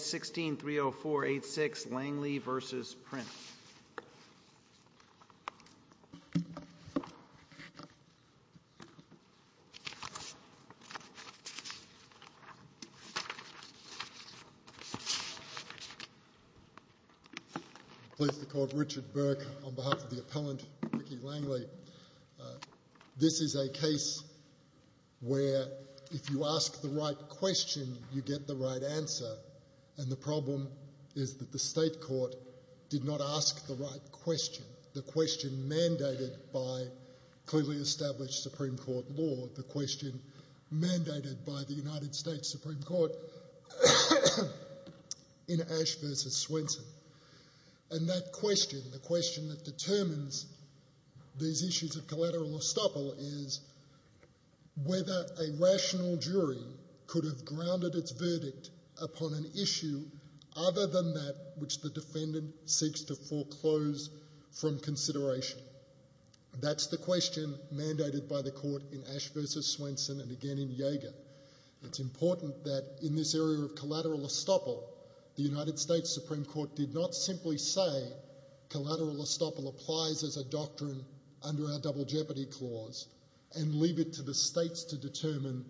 1630486 Langley v. Prince I am pleased to call Richard Burke on behalf of the appellant, Ricky Langley. This is a case where if you ask the right question, you get the right answer, and the problem is that the state court did not ask the right question, the question mandated by clearly established Supreme Court law, the question mandated by the United States Supreme Court in Ash v. Swenson. And that question, the question that determines these issues of collateral estoppel is whether a rational jury could have grounded its verdict upon an issue other than that which the defendant seeks to foreclose from consideration. That's the question mandated by the court in Ash v. Swenson and again in Jaeger. It's important that in this area of collateral estoppel, the United States Supreme Court did not simply say collateral estoppel applies as a doctrine under our double jeopardy clause and leave it to the states to determine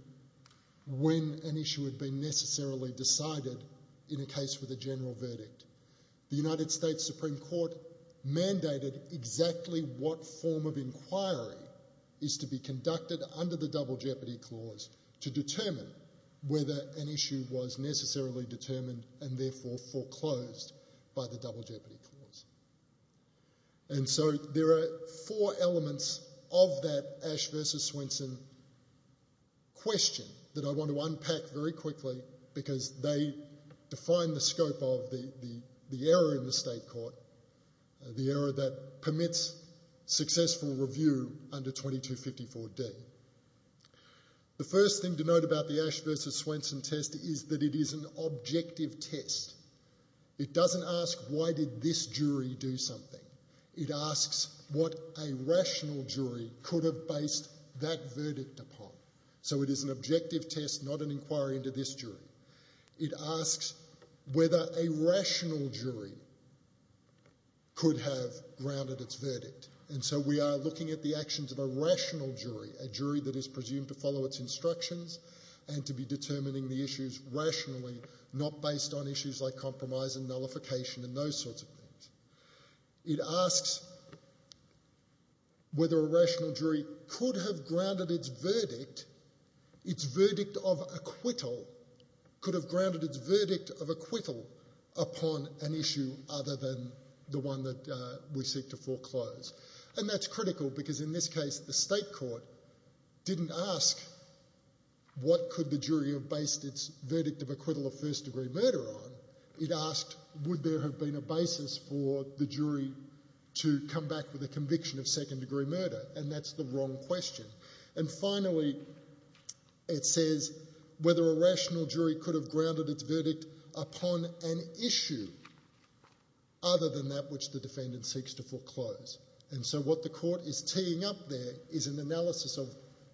when an issue had been necessarily decided in a case with a general verdict. The United States Supreme Court mandated exactly what form of inquiry is to be conducted under the double jeopardy clause to determine whether an issue was necessarily determined and therefore foreclosed by the double jeopardy clause. And so there are four elements of that Ash v. Swenson question that I want to unpack very quickly because they define the scope of the error in the state court, the error that permits successful review under 2254D. The first thing to note about the Ash v. Swenson test is that it is an objective test. It doesn't ask why did this jury do something. It asks what a rational jury could have based that verdict upon. So it is an objective test, not an inquiry into this jury. It asks whether a rational jury could have grounded its verdict. And so we are looking at the actions of a jury that is presumed to follow its instructions and to be determining the issues rationally, not based on issues like compromise and nullification and those sorts of things. It asks whether a rational jury could have grounded its verdict, its verdict of acquittal, could have grounded its verdict of acquittal upon an issue other than the one that we seek to foreclose. And that's critical because in this case the state court didn't ask what could the jury have based its verdict of acquittal of first-degree murder on. It asked would there have been a basis for the jury to come back with a conviction of second-degree murder. And that's the wrong question. And finally, it says whether a rational jury could have grounded its verdict upon an issue other than that which the defendant seeks to foreclose. And so what the court is teeing up there is an analysis of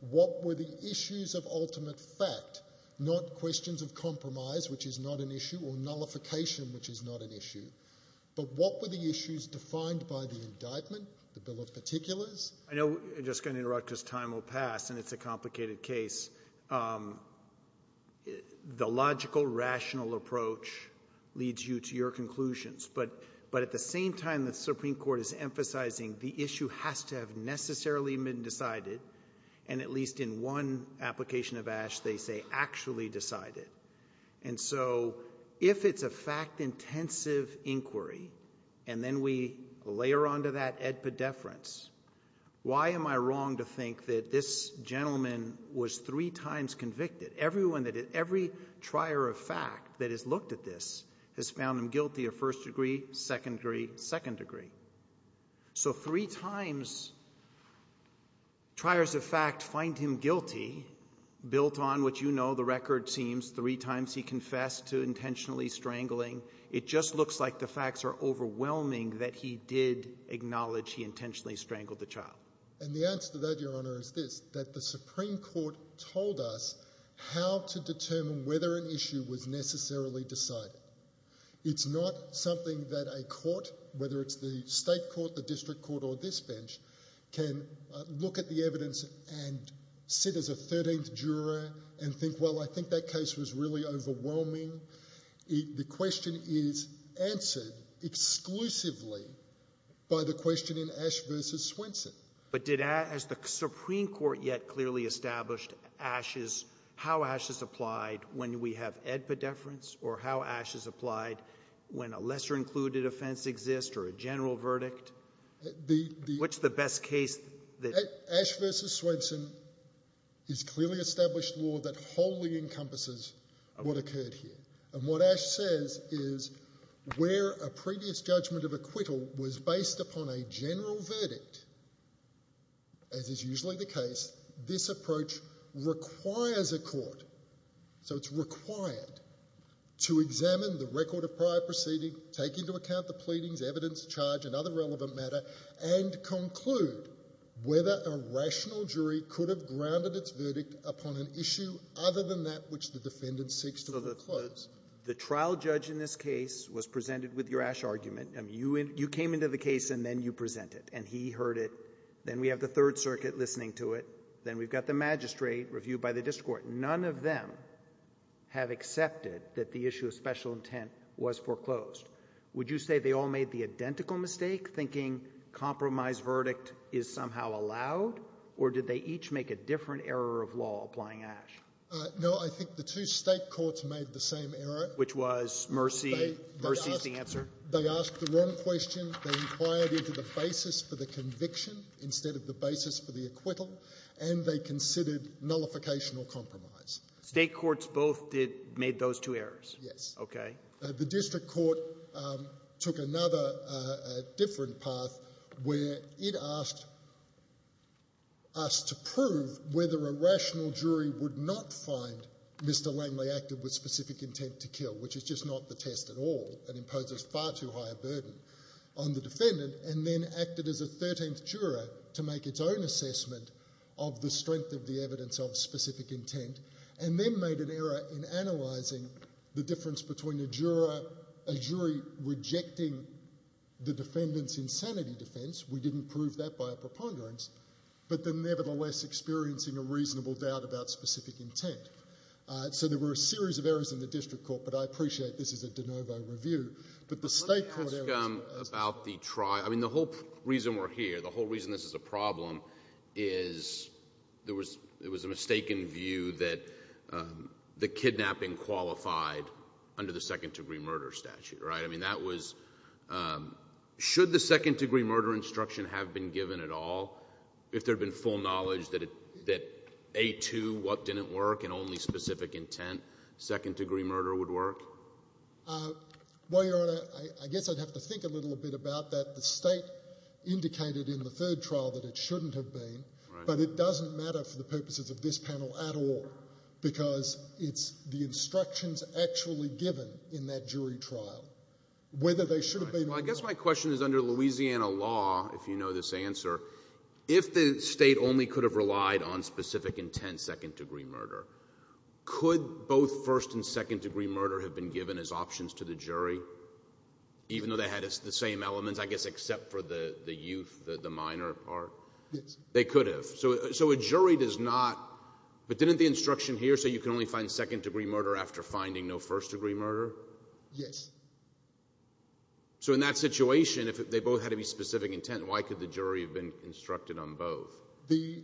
what were the issues of ultimate fact, not questions of compromise, which is not an issue, or nullification, which is not an issue. But what were the issues defined by the indictment, the bill of particulars? I know I'm just going to interrupt because time will pass and it's a complicated case. The logical, rational approach leads you to your conclusions. But at the same time, the Supreme Court is emphasizing the issue has to have necessarily been decided, and at least in one application of Ash, they say actually decided. And so if it's a fact-intensive inquiry and then we layer onto that edpedeference, why am I wrong to think that this gentleman was three times convicted? Everyone that every trier of fact that has looked at this has found him guilty of first degree, second degree, second degree. So three times triers of fact find him guilty, built on what you know the record seems, three times he confessed to intentionally strangling. It just looks like the facts are overwhelming that he did acknowledge he intentionally strangled the child. And the answer to that, Your Honour, is this, that the Supreme Court told us how to determine whether an issue was necessarily decided. It's not something that a court, whether it's the state court, the district court or this bench, can look at the evidence and sit as a 13th juror and think, well, I think that case was really overwhelming. The question is answered exclusively by the question in Ash v. Swenson. But has the Supreme Court yet clearly established how Ash is applied when we have edpedeference or how Ash is applied when a lesser included offence exists or a general verdict? What's the best case? Ash v. Swenson is clearly established law that wholly encompasses what occurred here. And what Ash says is where a previous judgment of acquittal was based upon a general verdict, as is usually the case, this approach requires a court, so it's required, to examine the record of prior proceeding, take into account the pleadings, evidence, charge and other relevant matter, and conclude whether a rational jury could have grounded its verdict upon an issue other than that which the defendant seeks to disclose. The trial judge in this case was presented with your Ash argument. You came into the case and then you presented, and he heard it. Then we have the Third Circuit listening to it. Then we've got the magistrate reviewed by the district court. None of them have accepted that the issue of special intent was foreclosed. Would you say they all made the identical mistake, thinking compromise verdict is somehow allowed, or did they each make a different error of law applying Ash? No. I think the two State courts made the same error. Which was mercy? Mercy is the answer. They asked the wrong question. They inquired into the basis for the conviction instead of the basis for the acquittal, and they considered nullification or compromise. State courts both did — made those two errors? Yes. Okay. The district court took another different path where it asked us to prove whether a rational jury would not find Mr. Langley acted with specific intent to kill, which is just not the test at all and imposes far too high a burden on the defendant, and then acted as a 13th juror to make its own assessment of the strength of the evidence of specific intent, and then made an error in analyzing the difference between a jury rejecting the defendant's insanity defense — we didn't prove that by a preponderance — but then nevertheless experiencing a reasonable doubt about specific intent. So there were a series of errors in the district court, but I appreciate this is a de novo review. But the State court — Let me ask about the — I mean, the whole reason we're here, the whole reason this is a problem is there was a mistaken view that the kidnapping qualified under the second degree murder statute, right? I mean, that was — should the second degree murder instruction have been given at all, if there had been full knowledge that A2, what didn't work, and only specific intent second degree murder would work? Well, Your Honor, I guess I'd have to think a little bit about that. The State indicated in the third trial that it shouldn't have been, but it doesn't matter for the purposes of this panel at all, because it's the instructions actually given in that jury trial, whether they should have been — Well, I guess my question is, under Louisiana law, if you know this answer, if the State only could have relied on specific intent second degree murder, could both first and second degree murder have been given as options to the jury, even though they had the same elements, I guess, except for the youth, the minor part? Yes. They could have. So a jury does not — but didn't the instruction here say you can only find second degree murder after finding no first degree murder? Yes. So in that situation, if they both had to be specific intent, why could the jury have been instructed on both? The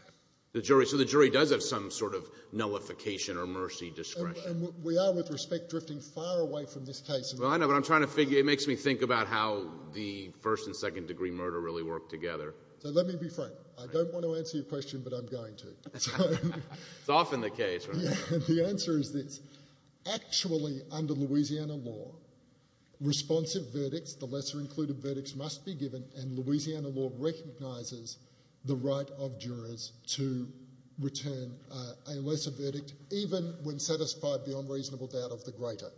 — The jury — so the jury does have some sort of nullification or mercy discretion. We are, with respect, drifting far away from this case. Well, I know, but I'm trying to figure — it makes me think about how the first and second degree murder really work together. So let me be frank. I don't want to answer your question, but I'm going to. It's often the case, right? The answer is this. Actually, under Louisiana law, responsive verdicts, the lesser included verdicts, must be given, and Louisiana law recognizes the right of jurors to return a lesser verdict, even when satisfied beyond reasonable doubt of the greater.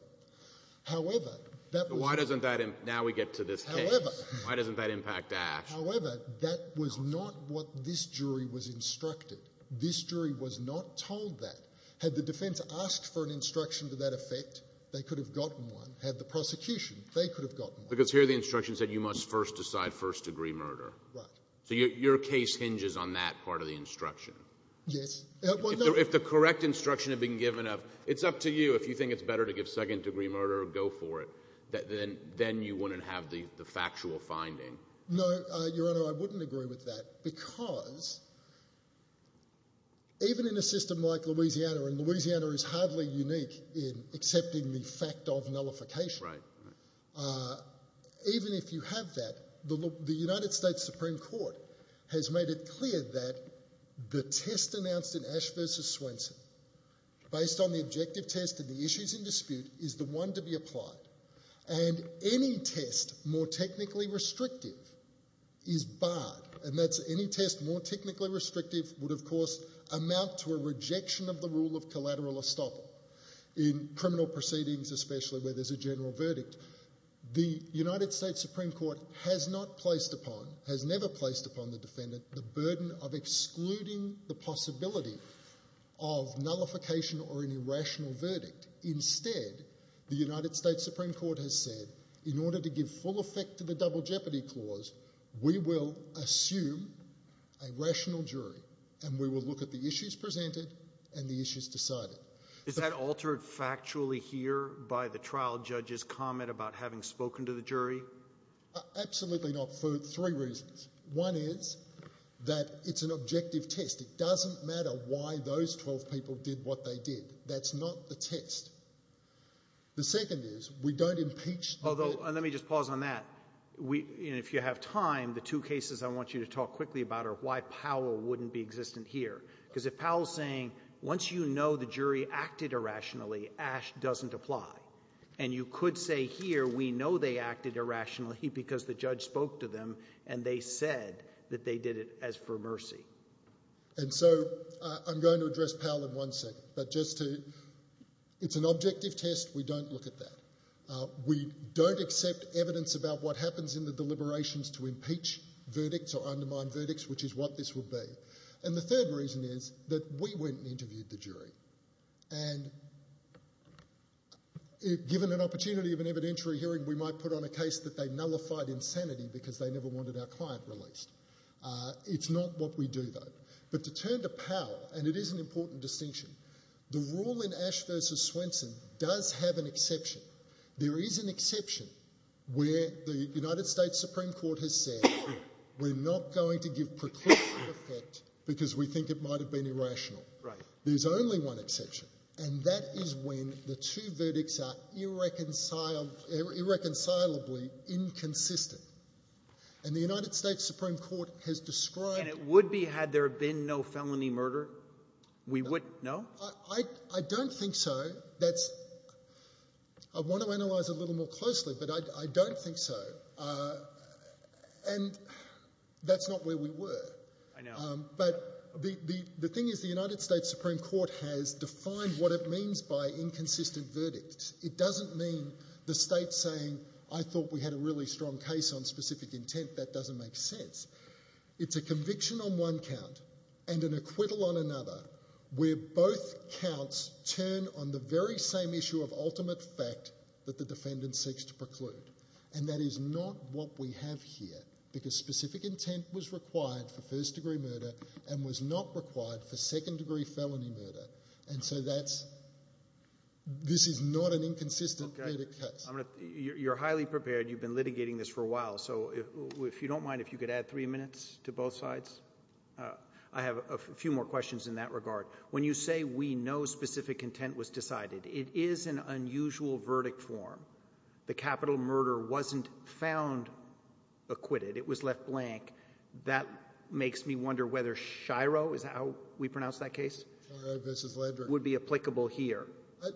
However, that was — Why doesn't that — now we get to this case. However — Why doesn't that impact Ash? However, that was not what this jury was instructed. This jury was not told that. Had the defense asked for an instruction to that effect, they could have gotten one. Had the prosecution, they could have gotten one. Because here the instruction said you must first decide first degree murder. Right. So your case hinges on that part of the instruction. Yes. If the correct instruction had been given of, it's up to you, if you think it's better to give second degree murder, go for it, then you wouldn't have the factual finding. No, Your Honor, I wouldn't agree with that, because even in a system like Louisiana — and Louisiana is hardly unique in accepting the fact of nullification — even if you have that, the United States Supreme Court has made it clear that the test announced in Ash v. Swenson, based on the objective test and the issues in dispute, is the one to be applied. And any test more technically restrictive is barred. And that's any test more technically restrictive would, of course, amount to a rejection of the rule of collateral estoppel in criminal proceedings, especially where there's a general verdict. The United States Supreme Court has not placed upon — has never placed upon the defendant the burden of excluding the possibility of nullification or an irrational verdict. Instead, the United States Supreme Court has said, in order to give full effect to the Double Jeopardy Clause, we will assume a rational jury, and we will look at the issues presented and the issues decided. Is that altered factually here by the trial judge's comment about having spoken to the jury? Absolutely not, for three reasons. One is that it's an objective test. It doesn't matter why those 12 people did what they did. That's not the test. The second is, we don't impeach — Although — and let me just pause on that. If you have time, the two cases I want you to talk quickly about are why Powell wouldn't be existent here. Because if Powell's saying, once you know the jury acted irrationally, Ash doesn't apply. And you could say here, we know they acted irrationally because the judge spoke to them and they said that they did it as for mercy. And so, I'm going to address Powell in one second, but just to — it's an objective test. We don't look at that. We don't accept evidence about what happens in the deliberations to impeach verdicts or undermine verdicts, which is what this will be. And the third reason is that we went and interviewed the jury. And given an opportunity of an evidentiary hearing, we might put on a case that they nullified insanity because they never wanted our client released. It's not what we do, though. But to turn to Powell — and it is an important distinction — the rule in Ash v. Swenson does have an exception. There is an exception where the United States Supreme Court has said, we're not going to give preclusion effect because we think it might have been irrational. There's only one exception. And that is when the two verdicts are irreconcilably inconsistent. And the United States Supreme Court has described — And it would be had there been no felony murder? We wouldn't — no? I don't think so. That's — I want to analyze it a little more closely, but I don't think so. And that's not where we were. I know. But the thing is, the United States Supreme Court has defined what it means by inconsistent verdicts. It doesn't mean the state's saying, I thought we had a really strong case on specific intent. That doesn't make sense. It's a conviction on one count and an acquittal on another where both counts turn on the very same issue of ultimate fact that the defendant seeks to preclude. And that is not what we have here. Because specific intent was required for first-degree murder and was not required for second-degree felony murder. And so that's — this is not an inconsistent verdict case. You're highly prepared. You've been litigating this for a while. So if you don't mind, if you could add three minutes to both sides. I have a few more questions in that regard. When you say we know specific intent was decided, it is an unusual verdict form. The capital murder wasn't found acquitted. It was left blank. That makes me wonder whether Shiro — is that how we pronounce that case? Shiro v. Landry. — would be applicable here.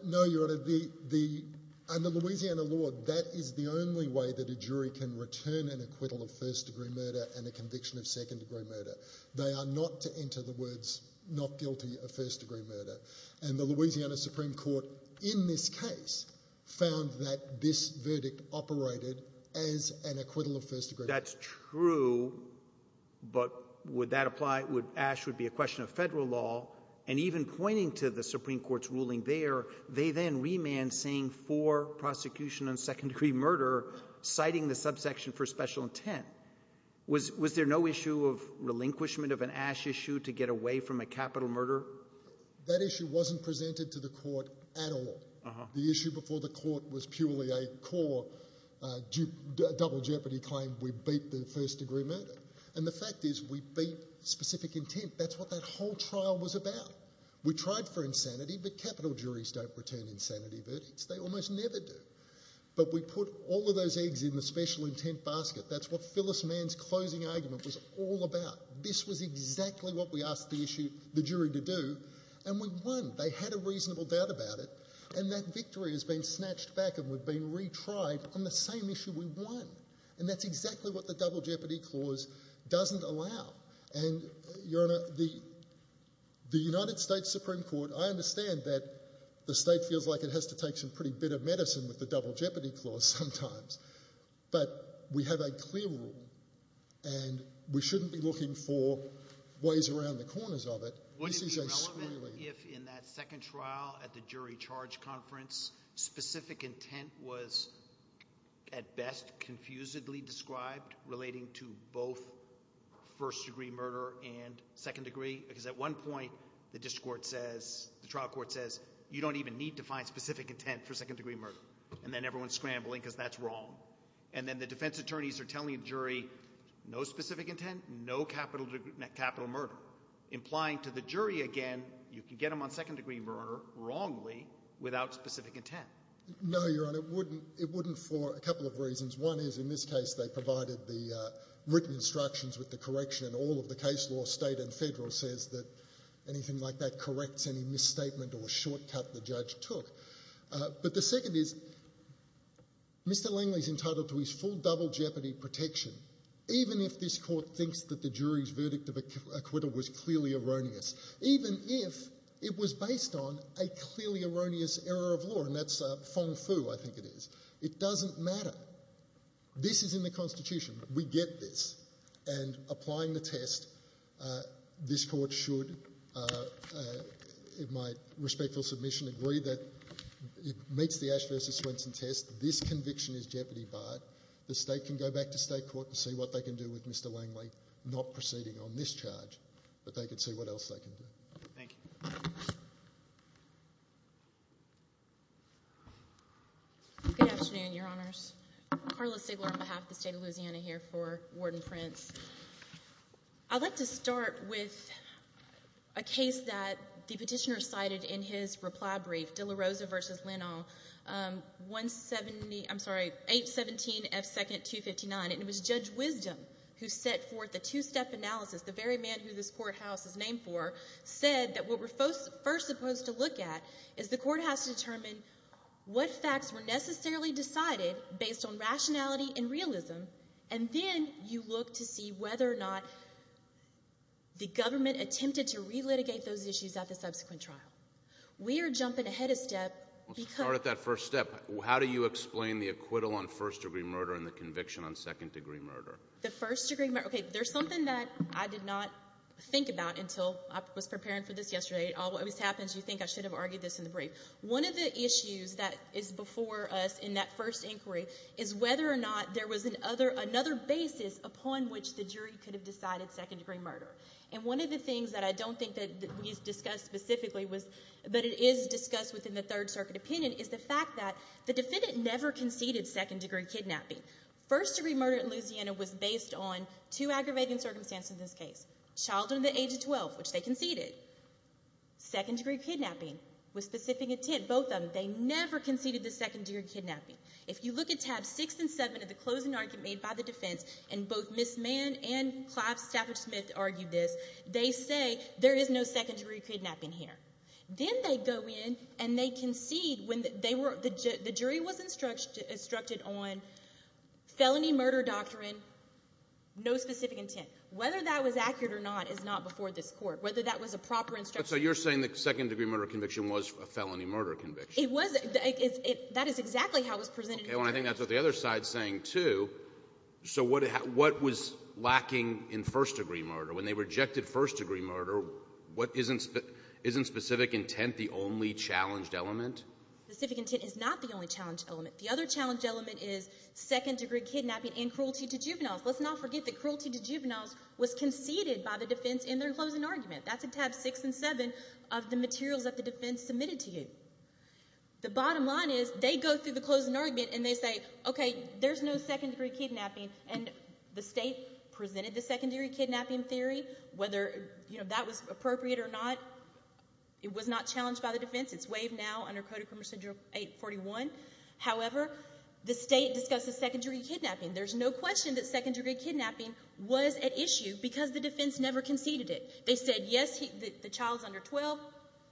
No, Your Honor. The — under Louisiana law, that is the only way that a jury can return an acquittal of first-degree murder and a conviction of second-degree murder. They are not to enter the words not guilty of first-degree murder. And the Louisiana Supreme Court, in this case, found that this verdict operated as an acquittal of first-degree murder. That's true. So — but would that apply? Would — Ash would be a question of federal law. And even pointing to the Supreme Court's ruling there, they then remand saying for prosecution on second-degree murder, citing the subsection for special intent. Was there no issue of relinquishment of an Ash issue to get away from a capital murder? That issue wasn't presented to the court at all. The issue before the court was purely a core double jeopardy claim, we beat the first-degree murder. And the fact is, we beat specific intent. That's what that whole trial was about. We tried for insanity, but capital juries don't return insanity verdicts. They almost never do. But we put all of those eggs in the special intent basket. That's what Phyllis Mann's closing argument was all about. This was exactly what we asked the issue — the jury to do. And we won. They had a reasonable doubt about it. And that victory has been snatched back and we've been retried on the same issue we won. And that's exactly what the double jeopardy clause doesn't allow. And Your Honor, the United States Supreme Court — I understand that the state feels like it has to take some pretty bitter medicine with the double jeopardy clause sometimes. But we have a clear rule, and we shouldn't be looking for ways around the corners of it. Wouldn't it be relevant if, in that second trial at the jury charge conference, specific intent was, at best, confusedly described relating to both first-degree murder and second-degree? Because at one point, the district court says — the trial court says, you don't even need to find specific intent for second-degree murder. And then everyone's scrambling because that's wrong. And then the defense attorneys are telling the jury, no specific intent, no capital murder, implying to the jury again, you can get them on second-degree murder, wrongly, without specific intent. No, Your Honor. It wouldn't. It wouldn't for a couple of reasons. One is, in this case, they provided the written instructions with the correction, and all of the case law, state and federal, says that anything like that corrects any misstatement or shortcut the judge took. But the second is, Mr. Langley's entitled to his full double jeopardy protection, even if this court thinks that the jury's verdict of acquittal was clearly erroneous, even if it was based on a clearly erroneous error of law, and that's feng-fu, I think it is. It doesn't matter. This is in the Constitution. We get this. And applying the test, this court should, in my respectful submission, agree that it meets the Ash v. Swenson test. This conviction is jeopardy barred. The state can go back to state court and see what they can do with Mr. Langley not proceeding on this charge, but they can see what else they can do. Thank you. Good afternoon, Your Honors. Carla Sigler on behalf of the state of Louisiana here for Warden Prince. I'd like to start with a case that the petitioner cited in his reply brief, De La Rosa v. Linnall, 817 F. 2nd 259, and it was Judge Wisdom who set forth the two-step analysis, the very man who this courthouse is named for, said that what we're first supposed to look at is the courthouse to determine what facts were necessarily decided based on rationality and realism, and then you look to see whether or not the government attempted to relitigate those issues at the subsequent trial. We are jumping ahead a step because Let's start at that first step. How do you explain the acquittal on first-degree murder and the conviction on second-degree murder? The first-degree murder, okay, there's something that I did not think about until I was preparing for this yesterday. It always happens. You think I should have argued this in the brief. One of the issues that is before us in that first inquiry is whether or not there was another basis upon which the jury could have decided second-degree murder, and one of the issues that it is discussed within the Third Circuit opinion is the fact that the defendant never conceded second-degree kidnapping. First-degree murder in Louisiana was based on two aggravating circumstances in this case. Child under the age of 12, which they conceded. Second-degree kidnapping with specific intent, both of them, they never conceded the second-degree kidnapping. If you look at Tabs 6 and 7 of the closing argument made by the defense, and both Ms. Mann and Clive Stafford-Smith argued this, they say there is no second-degree kidnapping here. Then they go in and they concede when they were, the jury was instructed on felony murder doctrine, no specific intent. Whether that was accurate or not is not before this Court. Whether that was a proper instruction. But so you're saying the second-degree murder conviction was a felony murder conviction? It was. That is exactly how it was presented. Okay, well, I think that's what the other side is saying, too. So what was lacking in first-degree murder? When they rejected first-degree murder, what isn't, isn't specific intent the only challenged element? Specific intent is not the only challenged element. The other challenged element is second-degree kidnapping and cruelty to juveniles. Let's not forget that cruelty to juveniles was conceded by the defense in their closing argument. That's in Tabs 6 and 7 of the materials that the defense submitted to you. The bottom line is they go through the closing argument and they say, okay, there's no second-degree kidnapping theory. Whether, you know, that was appropriate or not, it was not challenged by the defense. It's waived now under Code of Criminal Procedure 841. However, the state discussed the second-degree kidnapping. There's no question that second-degree kidnapping was at issue because the defense never conceded it. They said, yes, the child's under 12,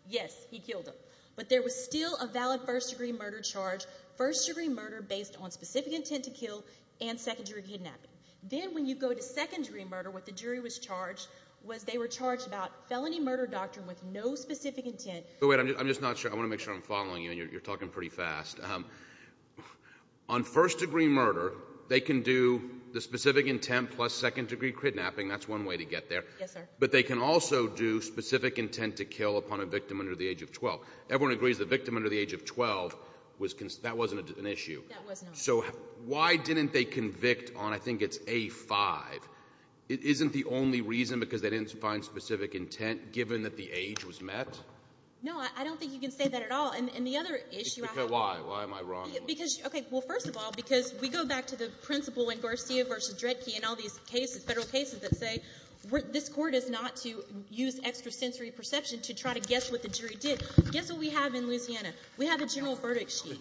yes, he killed him. But there was still a valid first-degree murder charge, first-degree murder based on specific intent to kill and second-degree kidnapping. Then when you go to second-degree murder, what the jury was charged was they were charged about felony murder doctrine with no specific intent. Wait, I'm just not sure. I want to make sure I'm following you and you're talking pretty fast. On first-degree murder, they can do the specific intent plus second-degree kidnapping. That's one way to get there. Yes, sir. But they can also do specific intent to kill upon a victim under the age of 12. Everyone agrees the victim under the age of 12 was conceded. That wasn't an issue. That was not. So why didn't they convict on, I think it's A-5? Isn't the only reason because they didn't find specific intent given that the age was met? No. I don't think you can say that at all. And the other issue I have to say — Okay. Why? Why am I wrong? Because — okay. Well, first of all, because we go back to the principle in Garcia v. Dredke and all these cases, Federal cases, that say this Court is not to use extrasensory perception to try to guess what the jury did. Guess what we have in Louisiana? We have a general verdict sheet.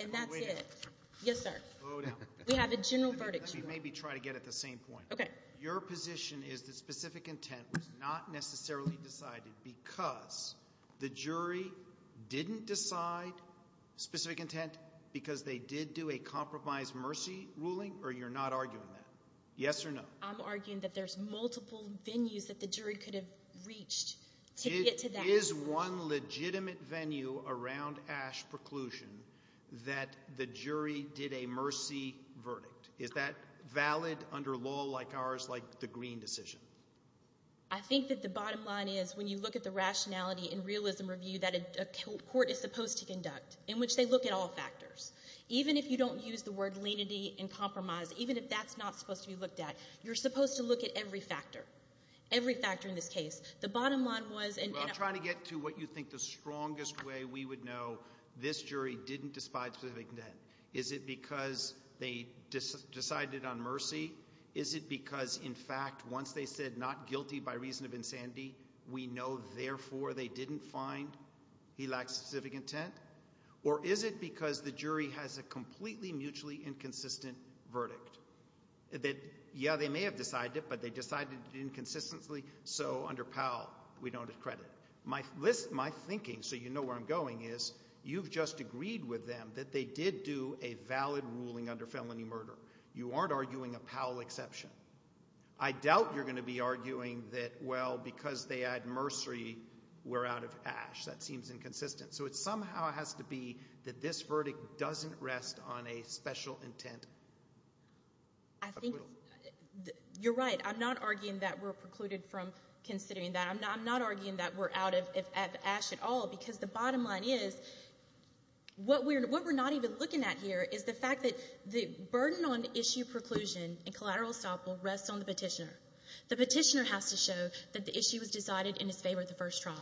And that's it. Yes, sir. Slow down. We have a general verdict sheet. Let me maybe try to get at the same point. Okay. Your position is that specific intent was not necessarily decided because the jury didn't decide specific intent because they did do a compromise mercy ruling, or you're not arguing that? Yes or no? I'm arguing that there's multiple venues that the jury could have reached to get to that. Is there some legitimate venue around Ash preclusion that the jury did a mercy verdict? Is that valid under law like ours, like the Green decision? I think that the bottom line is, when you look at the rationality and realism review that a court is supposed to conduct, in which they look at all factors, even if you don't use the word lenity and compromise, even if that's not supposed to be looked at, you're supposed to look at every factor, every factor in this case. The bottom line was — I'm trying to get to what you think the strongest way we would know, this jury didn't decide specific intent. Is it because they decided on mercy? Is it because, in fact, once they said not guilty by reason of insanity, we know therefore they didn't find he lacked specific intent? Or is it because the jury has a completely mutually inconsistent verdict that, yeah, they may have decided it, but they decided it inconsistently, so under Powell, we don't get credit. My thinking, so you know where I'm going, is you've just agreed with them that they did do a valid ruling under felony murder. You aren't arguing a Powell exception. I doubt you're going to be arguing that, well, because they had mercy, we're out of ash. That seems inconsistent. So it somehow has to be that this verdict doesn't rest on a special intent. I think you're right. I'm not arguing that we're precluded from considering that. I'm not arguing that we're out of ash at all, because the bottom line is, what we're not even looking at here is the fact that the burden on issue preclusion and collateral estoppel rests on the petitioner. The petitioner has to show that the issue was decided in his favor at the first trial.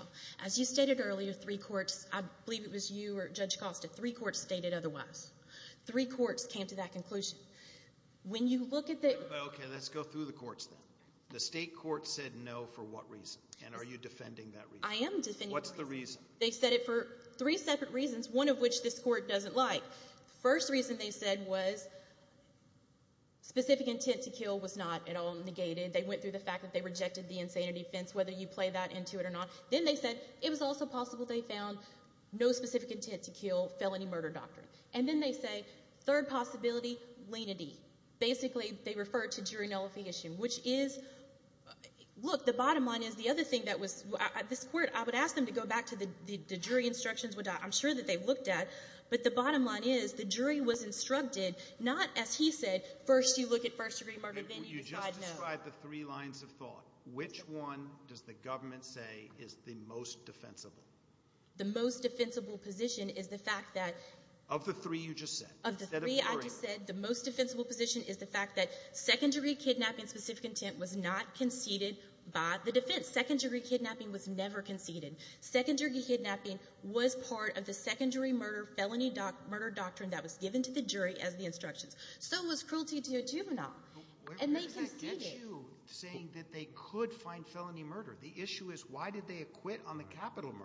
As you stated earlier, three courts, I believe it was you or Judge Costa, three courts stated otherwise. Three courts came to that conclusion. When you look at the... Okay, let's go through the courts then. The state court said no for what reason? And are you defending that reason? I am defending that reason. What's the reason? They said it for three separate reasons, one of which this court doesn't like. First reason they said was specific intent to kill was not at all negated. They went through the fact that they rejected the insanity offense, whether you play that into it or not. Then they said it was also possible they found no specific intent to kill, felony murder doctrine. And then they say third possibility, lenity. Basically, they refer to jury nullification, which is... Look, the bottom line is the other thing that was... This court, I would ask them to go back to the jury instructions, which I'm sure that they looked at. But the bottom line is the jury was instructed, not as he said, first you look at first degree murder, then you decide no. You just described the three lines of thought. Which one does the government say is the most defensible? The most defensible position is the fact that... Of the three you just said? Of the three I just said, the most defensible position is the fact that second degree kidnapping, specific intent was not conceded by the defense. Second degree kidnapping was never conceded. Second degree kidnapping was part of the second degree murder, felony murder doctrine that was given to the jury as the instructions. So was cruelty to a juvenile. And they conceded. But where does that get you, saying that they could find felony murder? The issue is why did they acquit on the capital murder?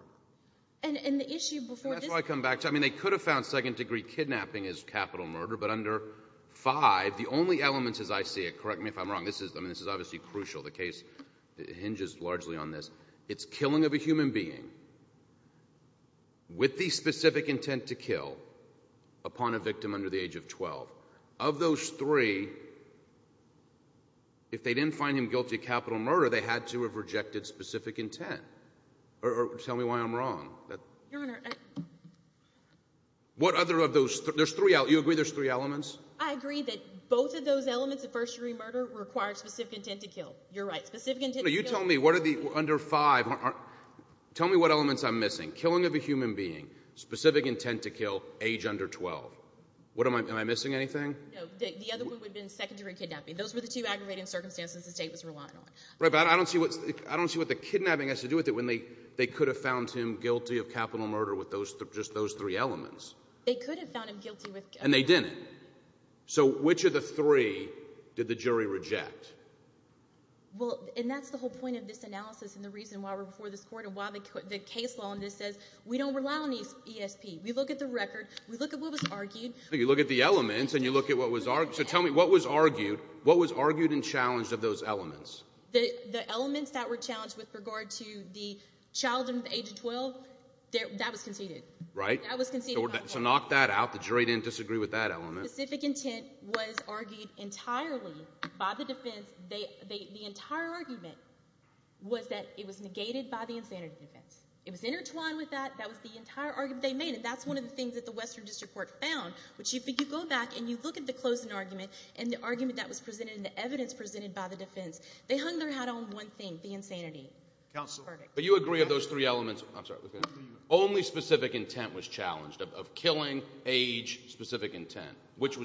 And the issue before this... That's what I come back to. I mean, they could have found second degree kidnapping as capital murder, but under five, the only elements as I see it, correct me if I'm wrong, this is, I mean, this is obviously crucial. The case hinges largely on this. It's killing of a human being with the specific intent to kill upon a victim under the age of 12. Of those three, if they didn't find him guilty of capital murder, they had to have rejected specific intent. Or tell me why I'm wrong. Your Honor, I... What other of those... There's three... You agree there's three elements? I agree that both of those elements of first degree murder required specific intent to kill. You're right. Specific intent to kill... No, you tell me. What are the... Under five... Tell me what elements I'm missing. Killing of a human being, specific intent to kill, age under 12. What am I... Am I missing anything? No. The other one would have been second degree kidnapping. Those were the two aggravating circumstances the state was relying on. Right. But I don't see what... I don't see what the kidnapping has to do with it when they could have found him guilty of capital murder with just those three elements. They could have found him guilty with... And they didn't. So which of the three did the jury reject? Well, and that's the whole point of this analysis and the reason why we're before this Court and why the case law on this says we don't rely on the ESP. We look at the record. We look at what was argued. You look at the elements and you look at what was argued. So tell me what was argued. What was argued and challenged of those elements? The elements that were challenged with regard to the child under the age of 12, that was conceded. Right. That was conceded by the defense. So knock that out. The jury didn't disagree with that element. Specific intent was argued entirely by the defense. The entire argument was that it was negated by the insanity defense. It was intertwined with that. That was the entire argument. They made it. That's one of the things that the Western District Court found, which if you go back and you look at the closing argument and the argument that was presented and the evidence presented by the defense, they hung their hat on one thing, the insanity verdict. But you agree of those three elements, I'm sorry, only specific intent was challenged, of killing, age, specific intent. Which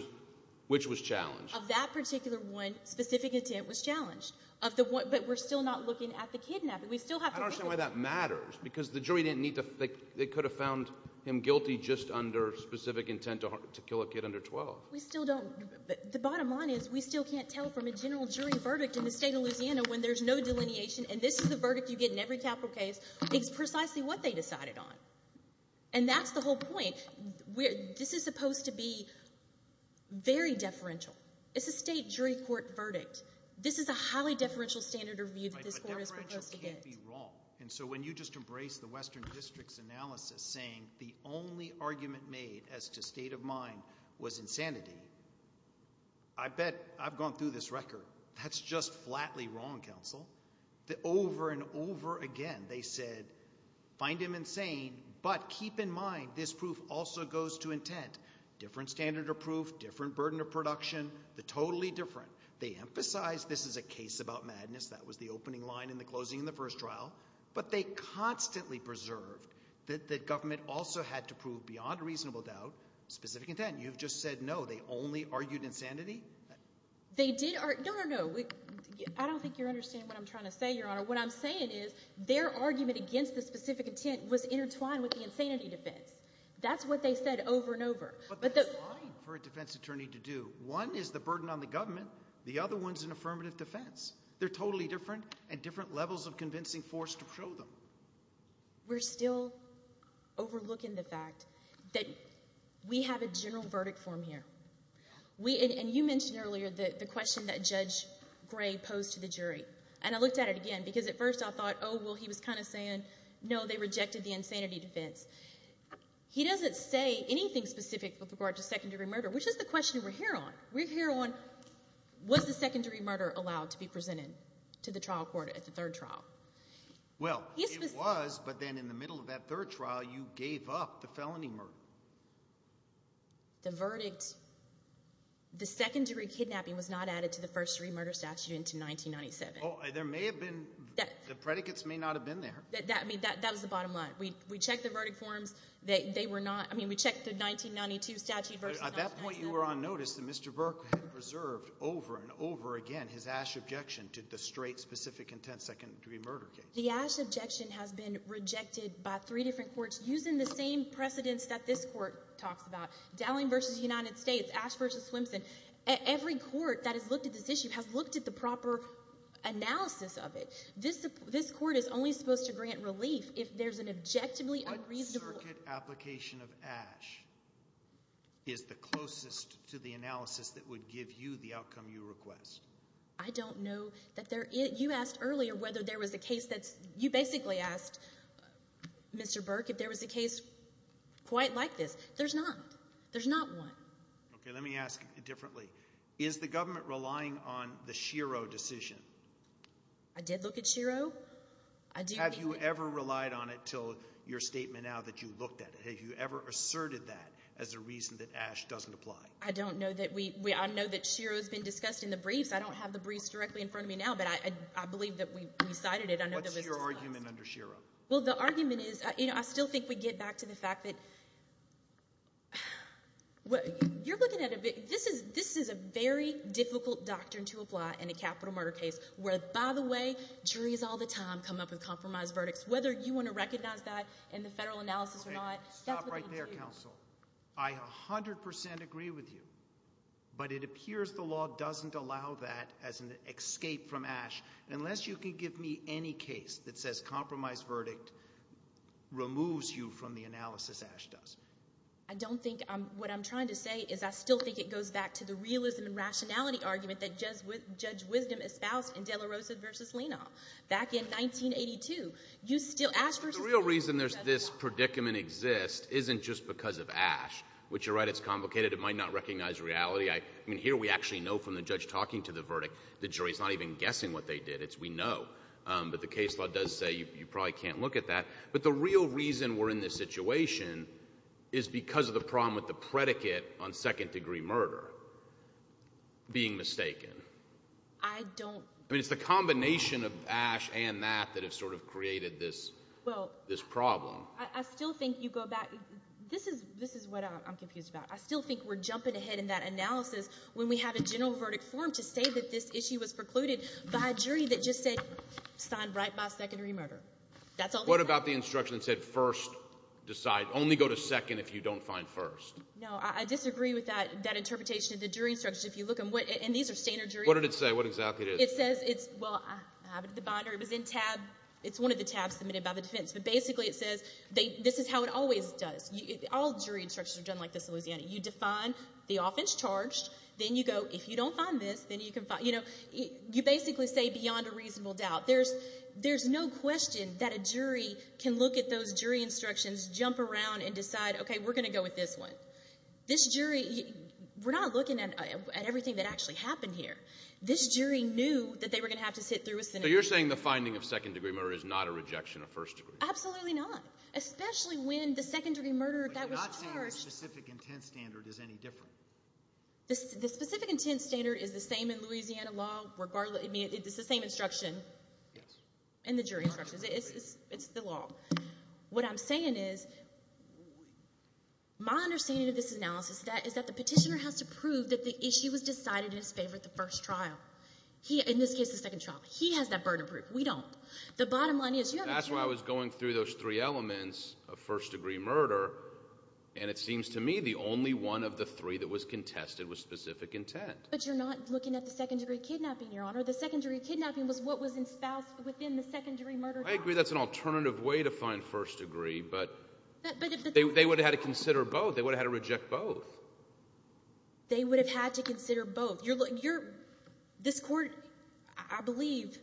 was challenged? Of that particular one, specific intent was challenged. But we're still not looking at the kidnapping. We still have to look at that. I don't understand why that matters because the jury didn't need to, they could have found him guilty just under specific intent to kill a kid under 12. We still don't. The bottom line is we still can't tell from a general jury verdict in the state of Louisiana when there's no delineation and this is the verdict you get in every capital case, it's precisely what they decided on. And that's the whole point. This is supposed to be very deferential. It's a state jury court verdict. This is a highly deferential standard of view that this court is supposed to get. But deferential can't be wrong. And so when you just embrace the Western District's analysis saying the only argument made as to state of mind was insanity, I bet I've gone through this record. That's just flatly wrong, counsel. Over and over again they said, find him insane, but keep in mind this proof also goes to intent. Different standard of proof, different burden of production, they're totally different. They emphasize this is a case about madness, that was the opening line in the closing of the first trial, but they constantly preserved that the government also had to prove beyond reasonable doubt specific intent. You've just said no, they only argued insanity? They did argue, no, no, no, I don't think you're understanding what I'm trying to say, Your Honor. What I'm saying is their argument against the specific intent was intertwined with the insanity defense. That's what they said over and over. But that's fine for a defense attorney to do. One is the burden on the government, the other one's an affirmative defense. They're totally different and different levels of convincing force to prove them. We're still overlooking the fact that we have a general verdict form here. And you mentioned earlier the question that Judge Gray posed to the jury, and I looked at it again because at first I thought, oh, well, he was kind of saying, no, they rejected the insanity defense. He doesn't say anything specific with regard to secondary murder, which is the question we're here on. We're here on, was the secondary murder allowed to be presented to the trial court at the third trial? Well, it was, but then in the middle of that third trial, you gave up the felony murder. The verdict, the secondary kidnapping was not added to the first degree murder statute until 1997. Oh, there may have been, the predicates may not have been there. That, I mean, that was the bottom line. We checked the verdict forms, they were not, I mean, we checked the 1992 statute versus 1997. At that point, you were on notice that Mr. Burke had preserved over and over again his ash objection to the straight, specific intent secondary murder case. The ash objection has been rejected by three different courts using the same precedents that this court talks about, Dowling v. United States, Ash v. Swimson. Every court that has looked at this issue has looked at the proper analysis of it. This court is only supposed to grant relief if there's an objectively unreasonable... A circuit application of ash is the closest to the analysis that would give you the outcome you request. I don't know that there is... you asked earlier whether there was a case that's... you basically asked Mr. Burke if there was a case quite like this. There's not. There's not one. Okay, let me ask it differently. Is the government relying on the Shiro decision? I did look at Shiro. I do... Have you ever relied on it until your statement now that you looked at it? Have you ever asserted that as a reason that ash doesn't apply? I don't know that we... I know that Shiro has been discussed in the briefs. I don't have the briefs directly in front of me now, but I believe that we cited it under the... What's your argument under Shiro? Well, the argument is... you know, I still think we get back to the fact that... you're looking at a... this is a very difficult doctrine to apply in a capital murder case where, by the way, juries all the time come up with compromised verdicts. Whether you want to recognize that in the federal analysis or not, that's what they want to do. Okay, stop right there, counsel. I 100 percent agree with you, but it appears the law doesn't allow that as an escape from ash unless you can give me any case that says compromised verdict removes you from the analysis ash does. I don't think... what I'm trying to say is I still think it goes back to the realism and rationality argument that Judge Wisdom espoused in De La Rosa v. Lena back in 1982. You still... The real reason this predicament exists isn't just because of ash, which you're right, it's complicated. It might not recognize reality. I mean, here we actually know from the judge talking to the verdict, the jury's not even guessing what they did. It's we know. But the case law does say you probably can't look at that. But the real reason we're in this situation is because of the problem with the predicate on second-degree murder being mistaken. I don't... I still think you go back... this is what I'm confused about. I still think we're jumping ahead in that analysis when we have a general verdict form to say that this issue was precluded by a jury that just said signed right by second-degree murder. That's all they said. What about the instruction that said first decide, only go to second if you don't find first? No, I disagree with that interpretation of the jury instruction. If you look at what... and these are standard juries. What did it say? What exactly is it? It says it's... well, I have it at the binder. It was in tab... it's one of the tabs submitted by the defense. But basically, it says they... this is how it always does. All jury instructions are done like this in Louisiana. You define the offense charged, then you go, if you don't find this, then you can find... you know, you basically say beyond a reasonable doubt. There's... there's no question that a jury can look at those jury instructions, jump around and decide, okay, we're going to go with this one. This jury... we're not looking at everything that actually happened here. This jury knew that they were going to have to sit through a... So you're saying the finding of second-degree murder is not a rejection of first-degree? Absolutely not. Especially when the second-degree murderer that was charged... But you're not saying the specific intent standard is any different? The specific intent standard is the same in Louisiana law, regardless... I mean, it's the same instruction in the jury instructions. It's the law. What I'm saying is, my understanding of this analysis is that the petitioner has to prove that the issue was decided in his favor at the first trial. He... in this case, the second trial. He has that burden to prove. We don't. The bottom line is... That's why I was going through those three elements of first-degree murder, and it seems to me the only one of the three that was contested was specific intent. But you're not looking at the second-degree kidnapping, Your Honor. The second-degree kidnapping was what was espoused within the second-degree murder trial. I agree that's an alternative way to find first-degree, but... But... They would have had to consider both. They would have had to reject both. They would have had to consider both. You're... This court, I believe...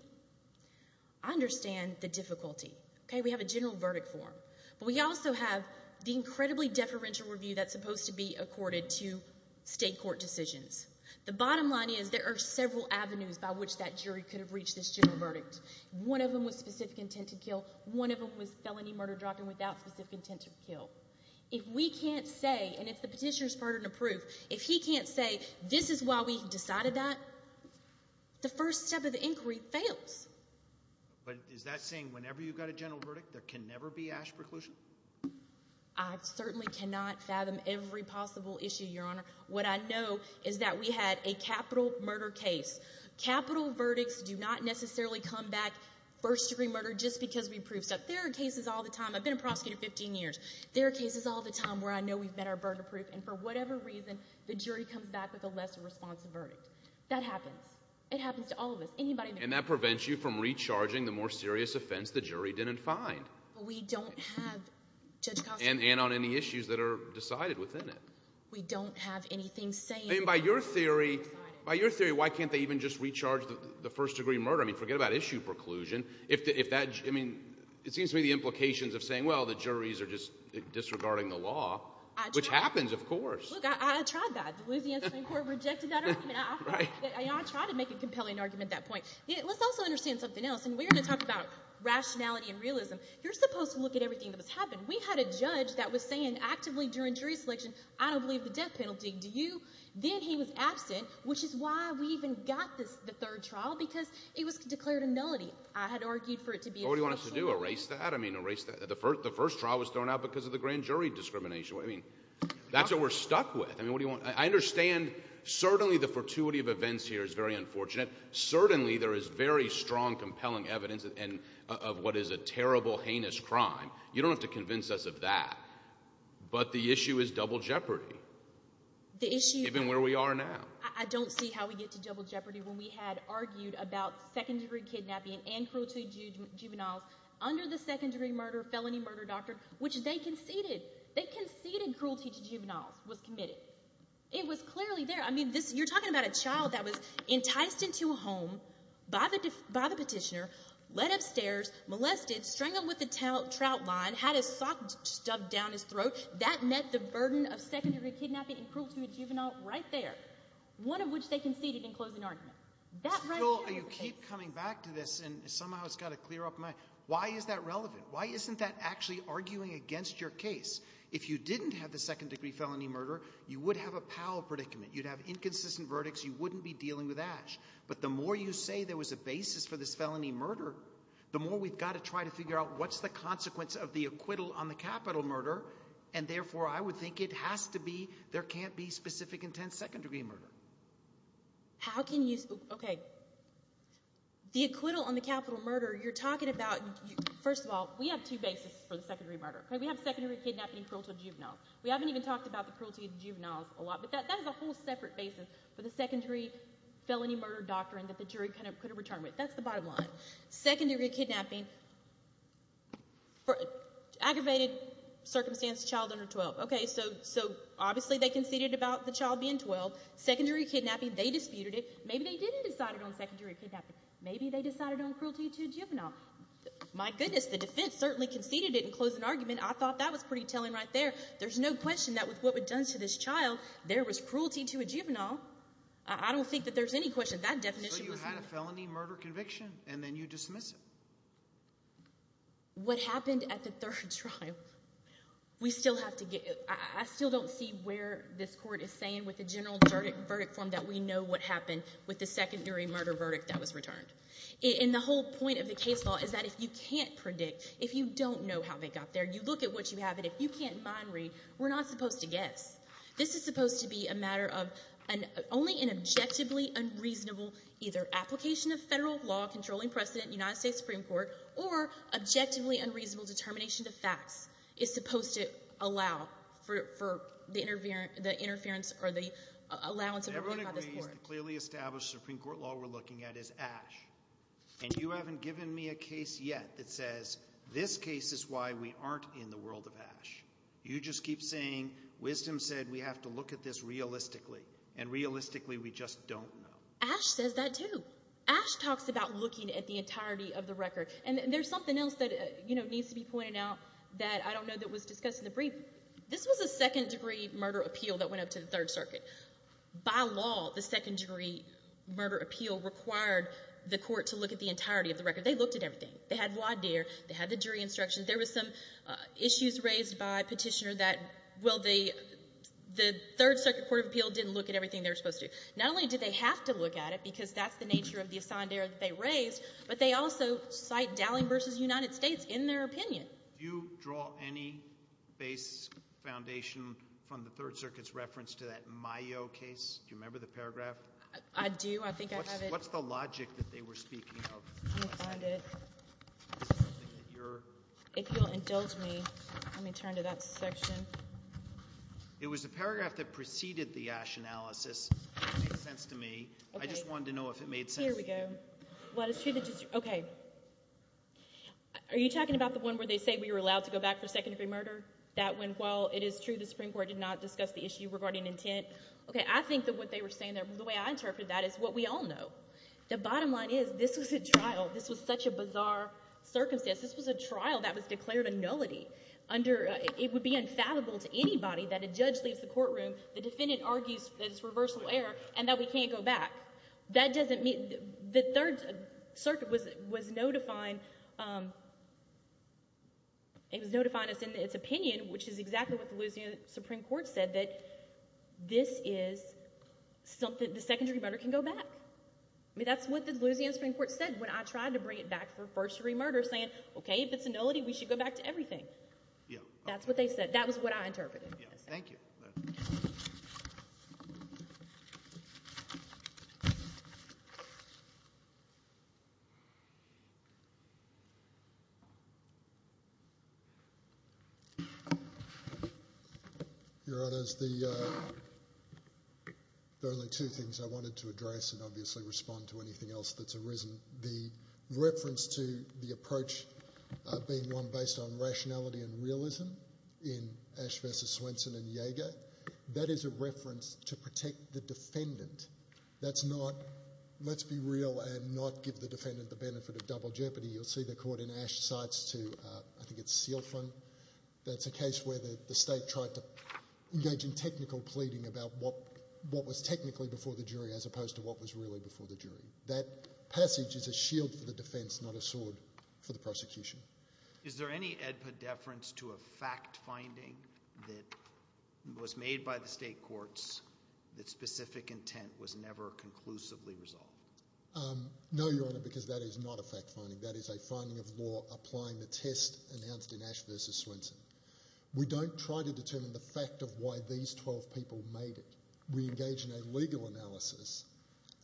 I understand the difficulty, okay? We have a general verdict form, but we also have the incredibly deferential review that's supposed to be accorded to state court decisions. The bottom line is, there are several avenues by which that jury could have reached this general verdict. One of them was specific intent to kill. One of them was felony murder, dropping without specific intent to kill. If we can't say, and if the petitioner's burden to prove, if he can't say, this is why we decided that, the first step of the inquiry fails. But is that saying whenever you've got a general verdict, there can never be ash preclusion? I certainly cannot fathom every possible issue, Your Honor. What I know is that we had a capital murder case. Capital verdicts do not necessarily come back first-degree murder just because we proved stuff. There are cases all the time. I've been a prosecutor 15 years. There are cases all the time where I know we've met our burden of proof, and for whatever reason, the jury comes back with a lesser response to the verdict. That happens. It happens to all of us. Anybody... And that prevents you from recharging the more serious offense the jury didn't find. We don't have, Judge Costa... And on any issues that are decided within it. We don't have anything saying... By your theory, by your theory, why can't they even just recharge the first-degree murder? I mean, forget about issue preclusion. If that... I mean, it seems to me the implications of saying, well, the juries are just disregarding the law, which happens, of course. Look, I tried that. The Louisiana Supreme Court rejected that argument. I tried to make a compelling argument at that point. Let's also understand something else, and we're going to talk about rationality and realism. You're supposed to look at everything that has happened. We had a judge that was saying actively during jury selection, I don't believe the death penalty. Do you? Then he was absent, which is why we even got the third trial, because it was declared a nullity. I had argued for it to be a nullity. What do you want us to do? Erase that? I mean, erase that. The first trial was thrown out because of the grand jury discrimination. I mean, that's what we're stuck with. I mean, what do you want? I understand certainly the fortuity of events here is very unfortunate. Certainly there is very strong, compelling evidence of what is a terrible, heinous crime. You don't have to convince us of that, but the issue is double jeopardy, even where we are now. The issue... I don't see how we get to double jeopardy when we had argued about second-degree kidnapping and cruelty to juveniles under the second-degree murder, felony murder doctrine, which they conceded. They conceded cruelty to juveniles was committed. It was clearly there. I mean, this... You're talking about a child that was enticed into a home by the petitioner, led upstairs, molested, strangled with a trout line, had his sock stubbed down his throat. That met the burden of second-degree kidnapping and cruelty to a juvenile right there, one of which they conceded in closing argument. That right there... You keep coming back to this, and somehow it's got to clear up my... Why is that relevant? Why isn't that actually arguing against your case? If you didn't have the second-degree felony murder, you would have a Powell predicament. You'd have inconsistent verdicts. You wouldn't be dealing with Ash. But the more you say there was a basis for this felony murder, the more we've got to try to figure out what's the consequence of the acquittal on the capital murder, and therefore I would think it has to be... There can't be specific intent second-degree murder. How can you... Okay. The acquittal on the capital murder, you're talking about... First of all, we have two bases for the second-degree murder. We have second-degree kidnapping and cruelty to a juvenile. We haven't even talked about the cruelty to juveniles a lot, but that is a whole separate basis for the second-degree felony murder doctrine that the jury could have returned with. That's the bottom line. Second-degree kidnapping for aggravated circumstance, child under 12. Okay, so obviously they conceded about the child being 12. Second-degree kidnapping, they disputed it. Maybe they didn't decide it on second-degree kidnapping. Maybe they decided on cruelty to a juvenile. My goodness, the defense certainly conceded it and closed an argument. I thought that was pretty telling right there. There's no question that with what was done to this child, there was cruelty to a juvenile. I don't think that there's any question. That definition was... So you had a felony murder conviction, and then you dismiss it. What happened at the third trial, we still have to get... I still don't see where this court is saying with the general verdict form that we know what happened with the secondary murder verdict that was returned. And the whole point of the case law is that if you can't predict, if you don't know how they got there, you look at what you have, and if you can't mind-read, we're not supposed to guess. This is supposed to be a matter of only an objectively unreasonable either application of federal law controlling precedent in the United States Supreme Court or objectively unreasonable determination of facts is supposed to allow for the interference or the allowance of... The only court that clearly established Supreme Court law we're looking at is Ash. And you haven't given me a case yet that says this case is why we aren't in the world of Ash. You just keep saying wisdom said we have to look at this realistically, and realistically we just don't know. Ash says that too. Ash talks about looking at the entirety of the record. And there's something else that needs to be pointed out that I don't know that was discussed in the brief. This was a second-degree murder appeal that went up to the Third Circuit. By law, the second-degree murder appeal required the court to look at the entirety of the record. They looked at everything. They had voir dire. They had the jury instructions. There were some issues raised by Petitioner that, well, the Third Circuit Court of Appeal didn't look at everything they were supposed to. Not only did they have to look at it because that's the nature of the assondere that they raised, but they also cite Dowling v. United States in their opinion. Do you draw any base foundation from the Third Circuit's reference to that Mayo case? Do you remember the paragraph? I do. I think I have it. What's the logic that they were speaking of? Let me find it. If you'll indulge me, let me turn to that section. It was the paragraph that preceded the Ash analysis. It makes sense to me. I just wanted to know if it made sense. Here we go. Okay. Are you talking about the one where they say we were allowed to go back for secondary murder? That went well. It is true the Supreme Court did not discuss the issue regarding intent. Okay. I think that what they were saying there, the way I interpreted that, is what we all know. The bottom line is this was a trial. This was such a bizarre circumstance. This was a trial that was declared a nullity. It would be unfathomable to anybody that a judge leaves the courtroom, the defendant argues that it's reversal error, and that we can't go back. The Third Circuit was notifying us in its opinion, which is exactly what the Louisiana Supreme Court said, that the secondary murder can go back. That's what the Louisiana Supreme Court said when I tried to bring it back for first-degree murder, saying, okay, if it's a nullity, we should go back to everything. That's what they said. That was what I interpreted. Thank you. Your Honours, there are only two things I wanted to address and obviously respond to anything else that's arisen. The reference to the approach being one based on rationality and realism in Ash v. Swenson and Jaeger, that is a reference to protect the defendant. That's not, let's be real and not give the defendant the benefit of double jeopardy. You'll see the court in Ash cites to, I think it's Seal Fund, that's a case where the state tried to engage in technical pleading about what was technically before the jury as opposed to what was really before the jury. That passage is a shield for the defense, not a sword for the prosecution. Is there any epideference to a fact-finding that was made by the state courts that specific intent was never conclusively resolved? No, Your Honour, because that is not a fact-finding. That is a finding of law applying the test announced in Ash v. Swenson. We don't try to determine the fact of why these 12 people made it. We engage in a legal analysis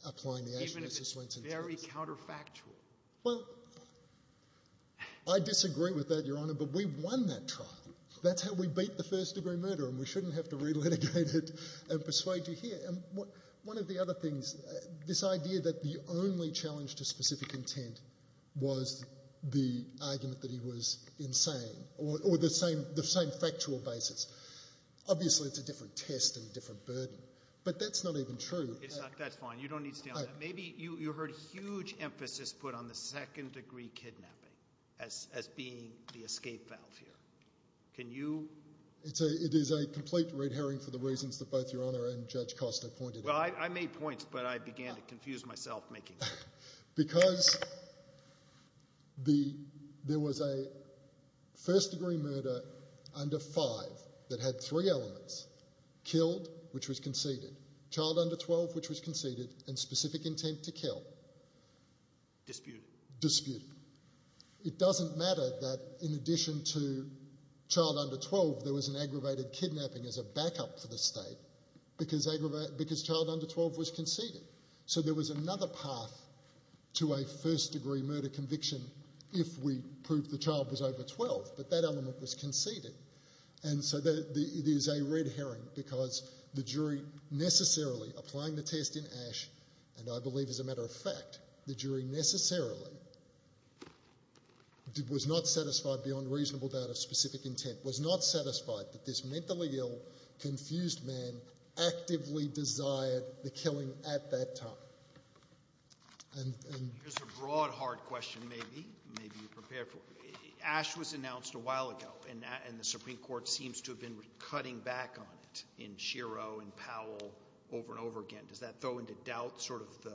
applying the Ash v. Swenson test. Even if it's very counterfactual? Well, I disagree with that, Your Honour, but we won that trial. That's how we beat the first-degree murder and we shouldn't have to relitigate it and persuade you here. One of the other things, this idea that the only challenge to specific intent was the argument that he was insane or the same factual basis. Obviously, it's a different test and a different burden, but that's not even true. That's fine. You don't need to stay on that. Maybe you heard huge emphasis put on the second-degree kidnapping as being the escape valve here. It is a complete red herring for the reasons that both Your Honour and Judge Costa pointed out. Well, I made points, but I began to confuse myself making them. Because there was a first-degree murder under five that had three elements, killed, which was conceded, child under 12, which was conceded, and specific intent to kill. Disputed. Disputed. It doesn't matter that, in addition to child under 12, there was an aggravated kidnapping as a backup for the State because child under 12 was conceded. So there was another path to a first-degree murder conviction if we proved the child was over 12, but that element was conceded. And so it is a red herring because the jury necessarily, applying the test in Ashe, and I believe, as a matter of fact, the jury necessarily was not satisfied beyond reasonable doubt of specific intent, was not satisfied that this mentally ill, confused man actively desired the killing at that time. Here's a broad, hard question maybe you prepared for. Ashe was announced a while ago, and the Supreme Court seems to have been cutting back on it in Shiro and Powell over and over again. Does that throw into doubt sort of the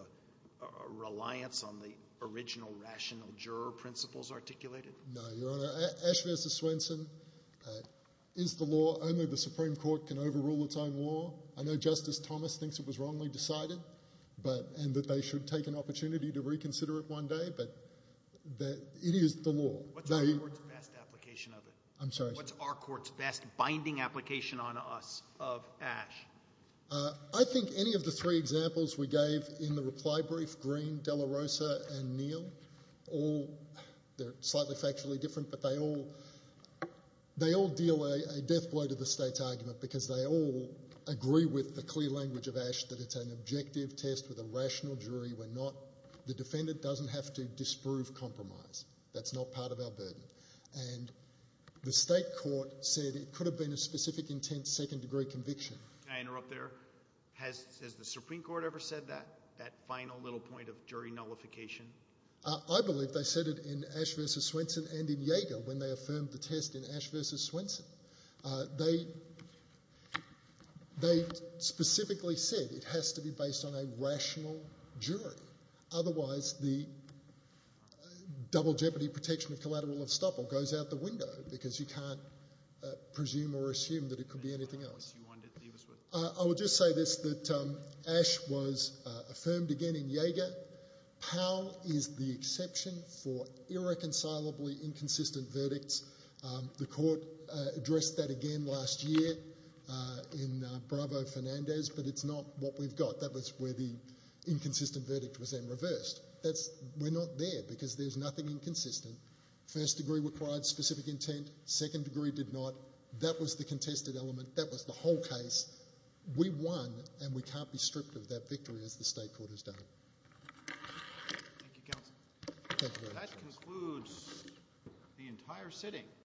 reliance on the original rational juror principles articulated? No, Your Honor. Ashe v. Swenson is the law. Only the Supreme Court can overrule its own law. I know Justice Thomas thinks it was wrongly decided and that they should take an opportunity to reconsider it one day, but it is the law. What's our court's best application of it? I'm sorry? What's our court's best binding application on us of Ashe? I think any of the three examples we gave in the reply brief, Green, De La Rosa, and Neal, they're slightly factually different, but they all deal a death blow to the State's argument because they all agree with the clear language of Ashe that it's an objective test with a rational jury. The defendant doesn't have to disprove compromise. That's not part of our burden. And the State court said it could have been a specific intent second-degree conviction. Can I interrupt there? Has the Supreme Court ever said that, that final little point of jury nullification? I believe they said it in Ashe v. Swenson and in Jaeger when they affirmed the test in Ashe v. Swenson. They specifically said it has to be based on a rational jury. Otherwise the double jeopardy protection of collateral of estoppel goes out the window because you can't presume or assume that it could be anything else. I will just say this, that Ashe was affirmed again in Jaeger. Powell is the exception for irreconcilably inconsistent verdicts. The court addressed that again last year in Bravo v. Fernandez, but it's not what we've got. That was where the inconsistent verdict was then reversed. We're not there because there's nothing inconsistent. First degree required specific intent. Second degree did not. That was the contested element. That was the whole case. We won, and we can't be stripped of that victory as the State Court has done it.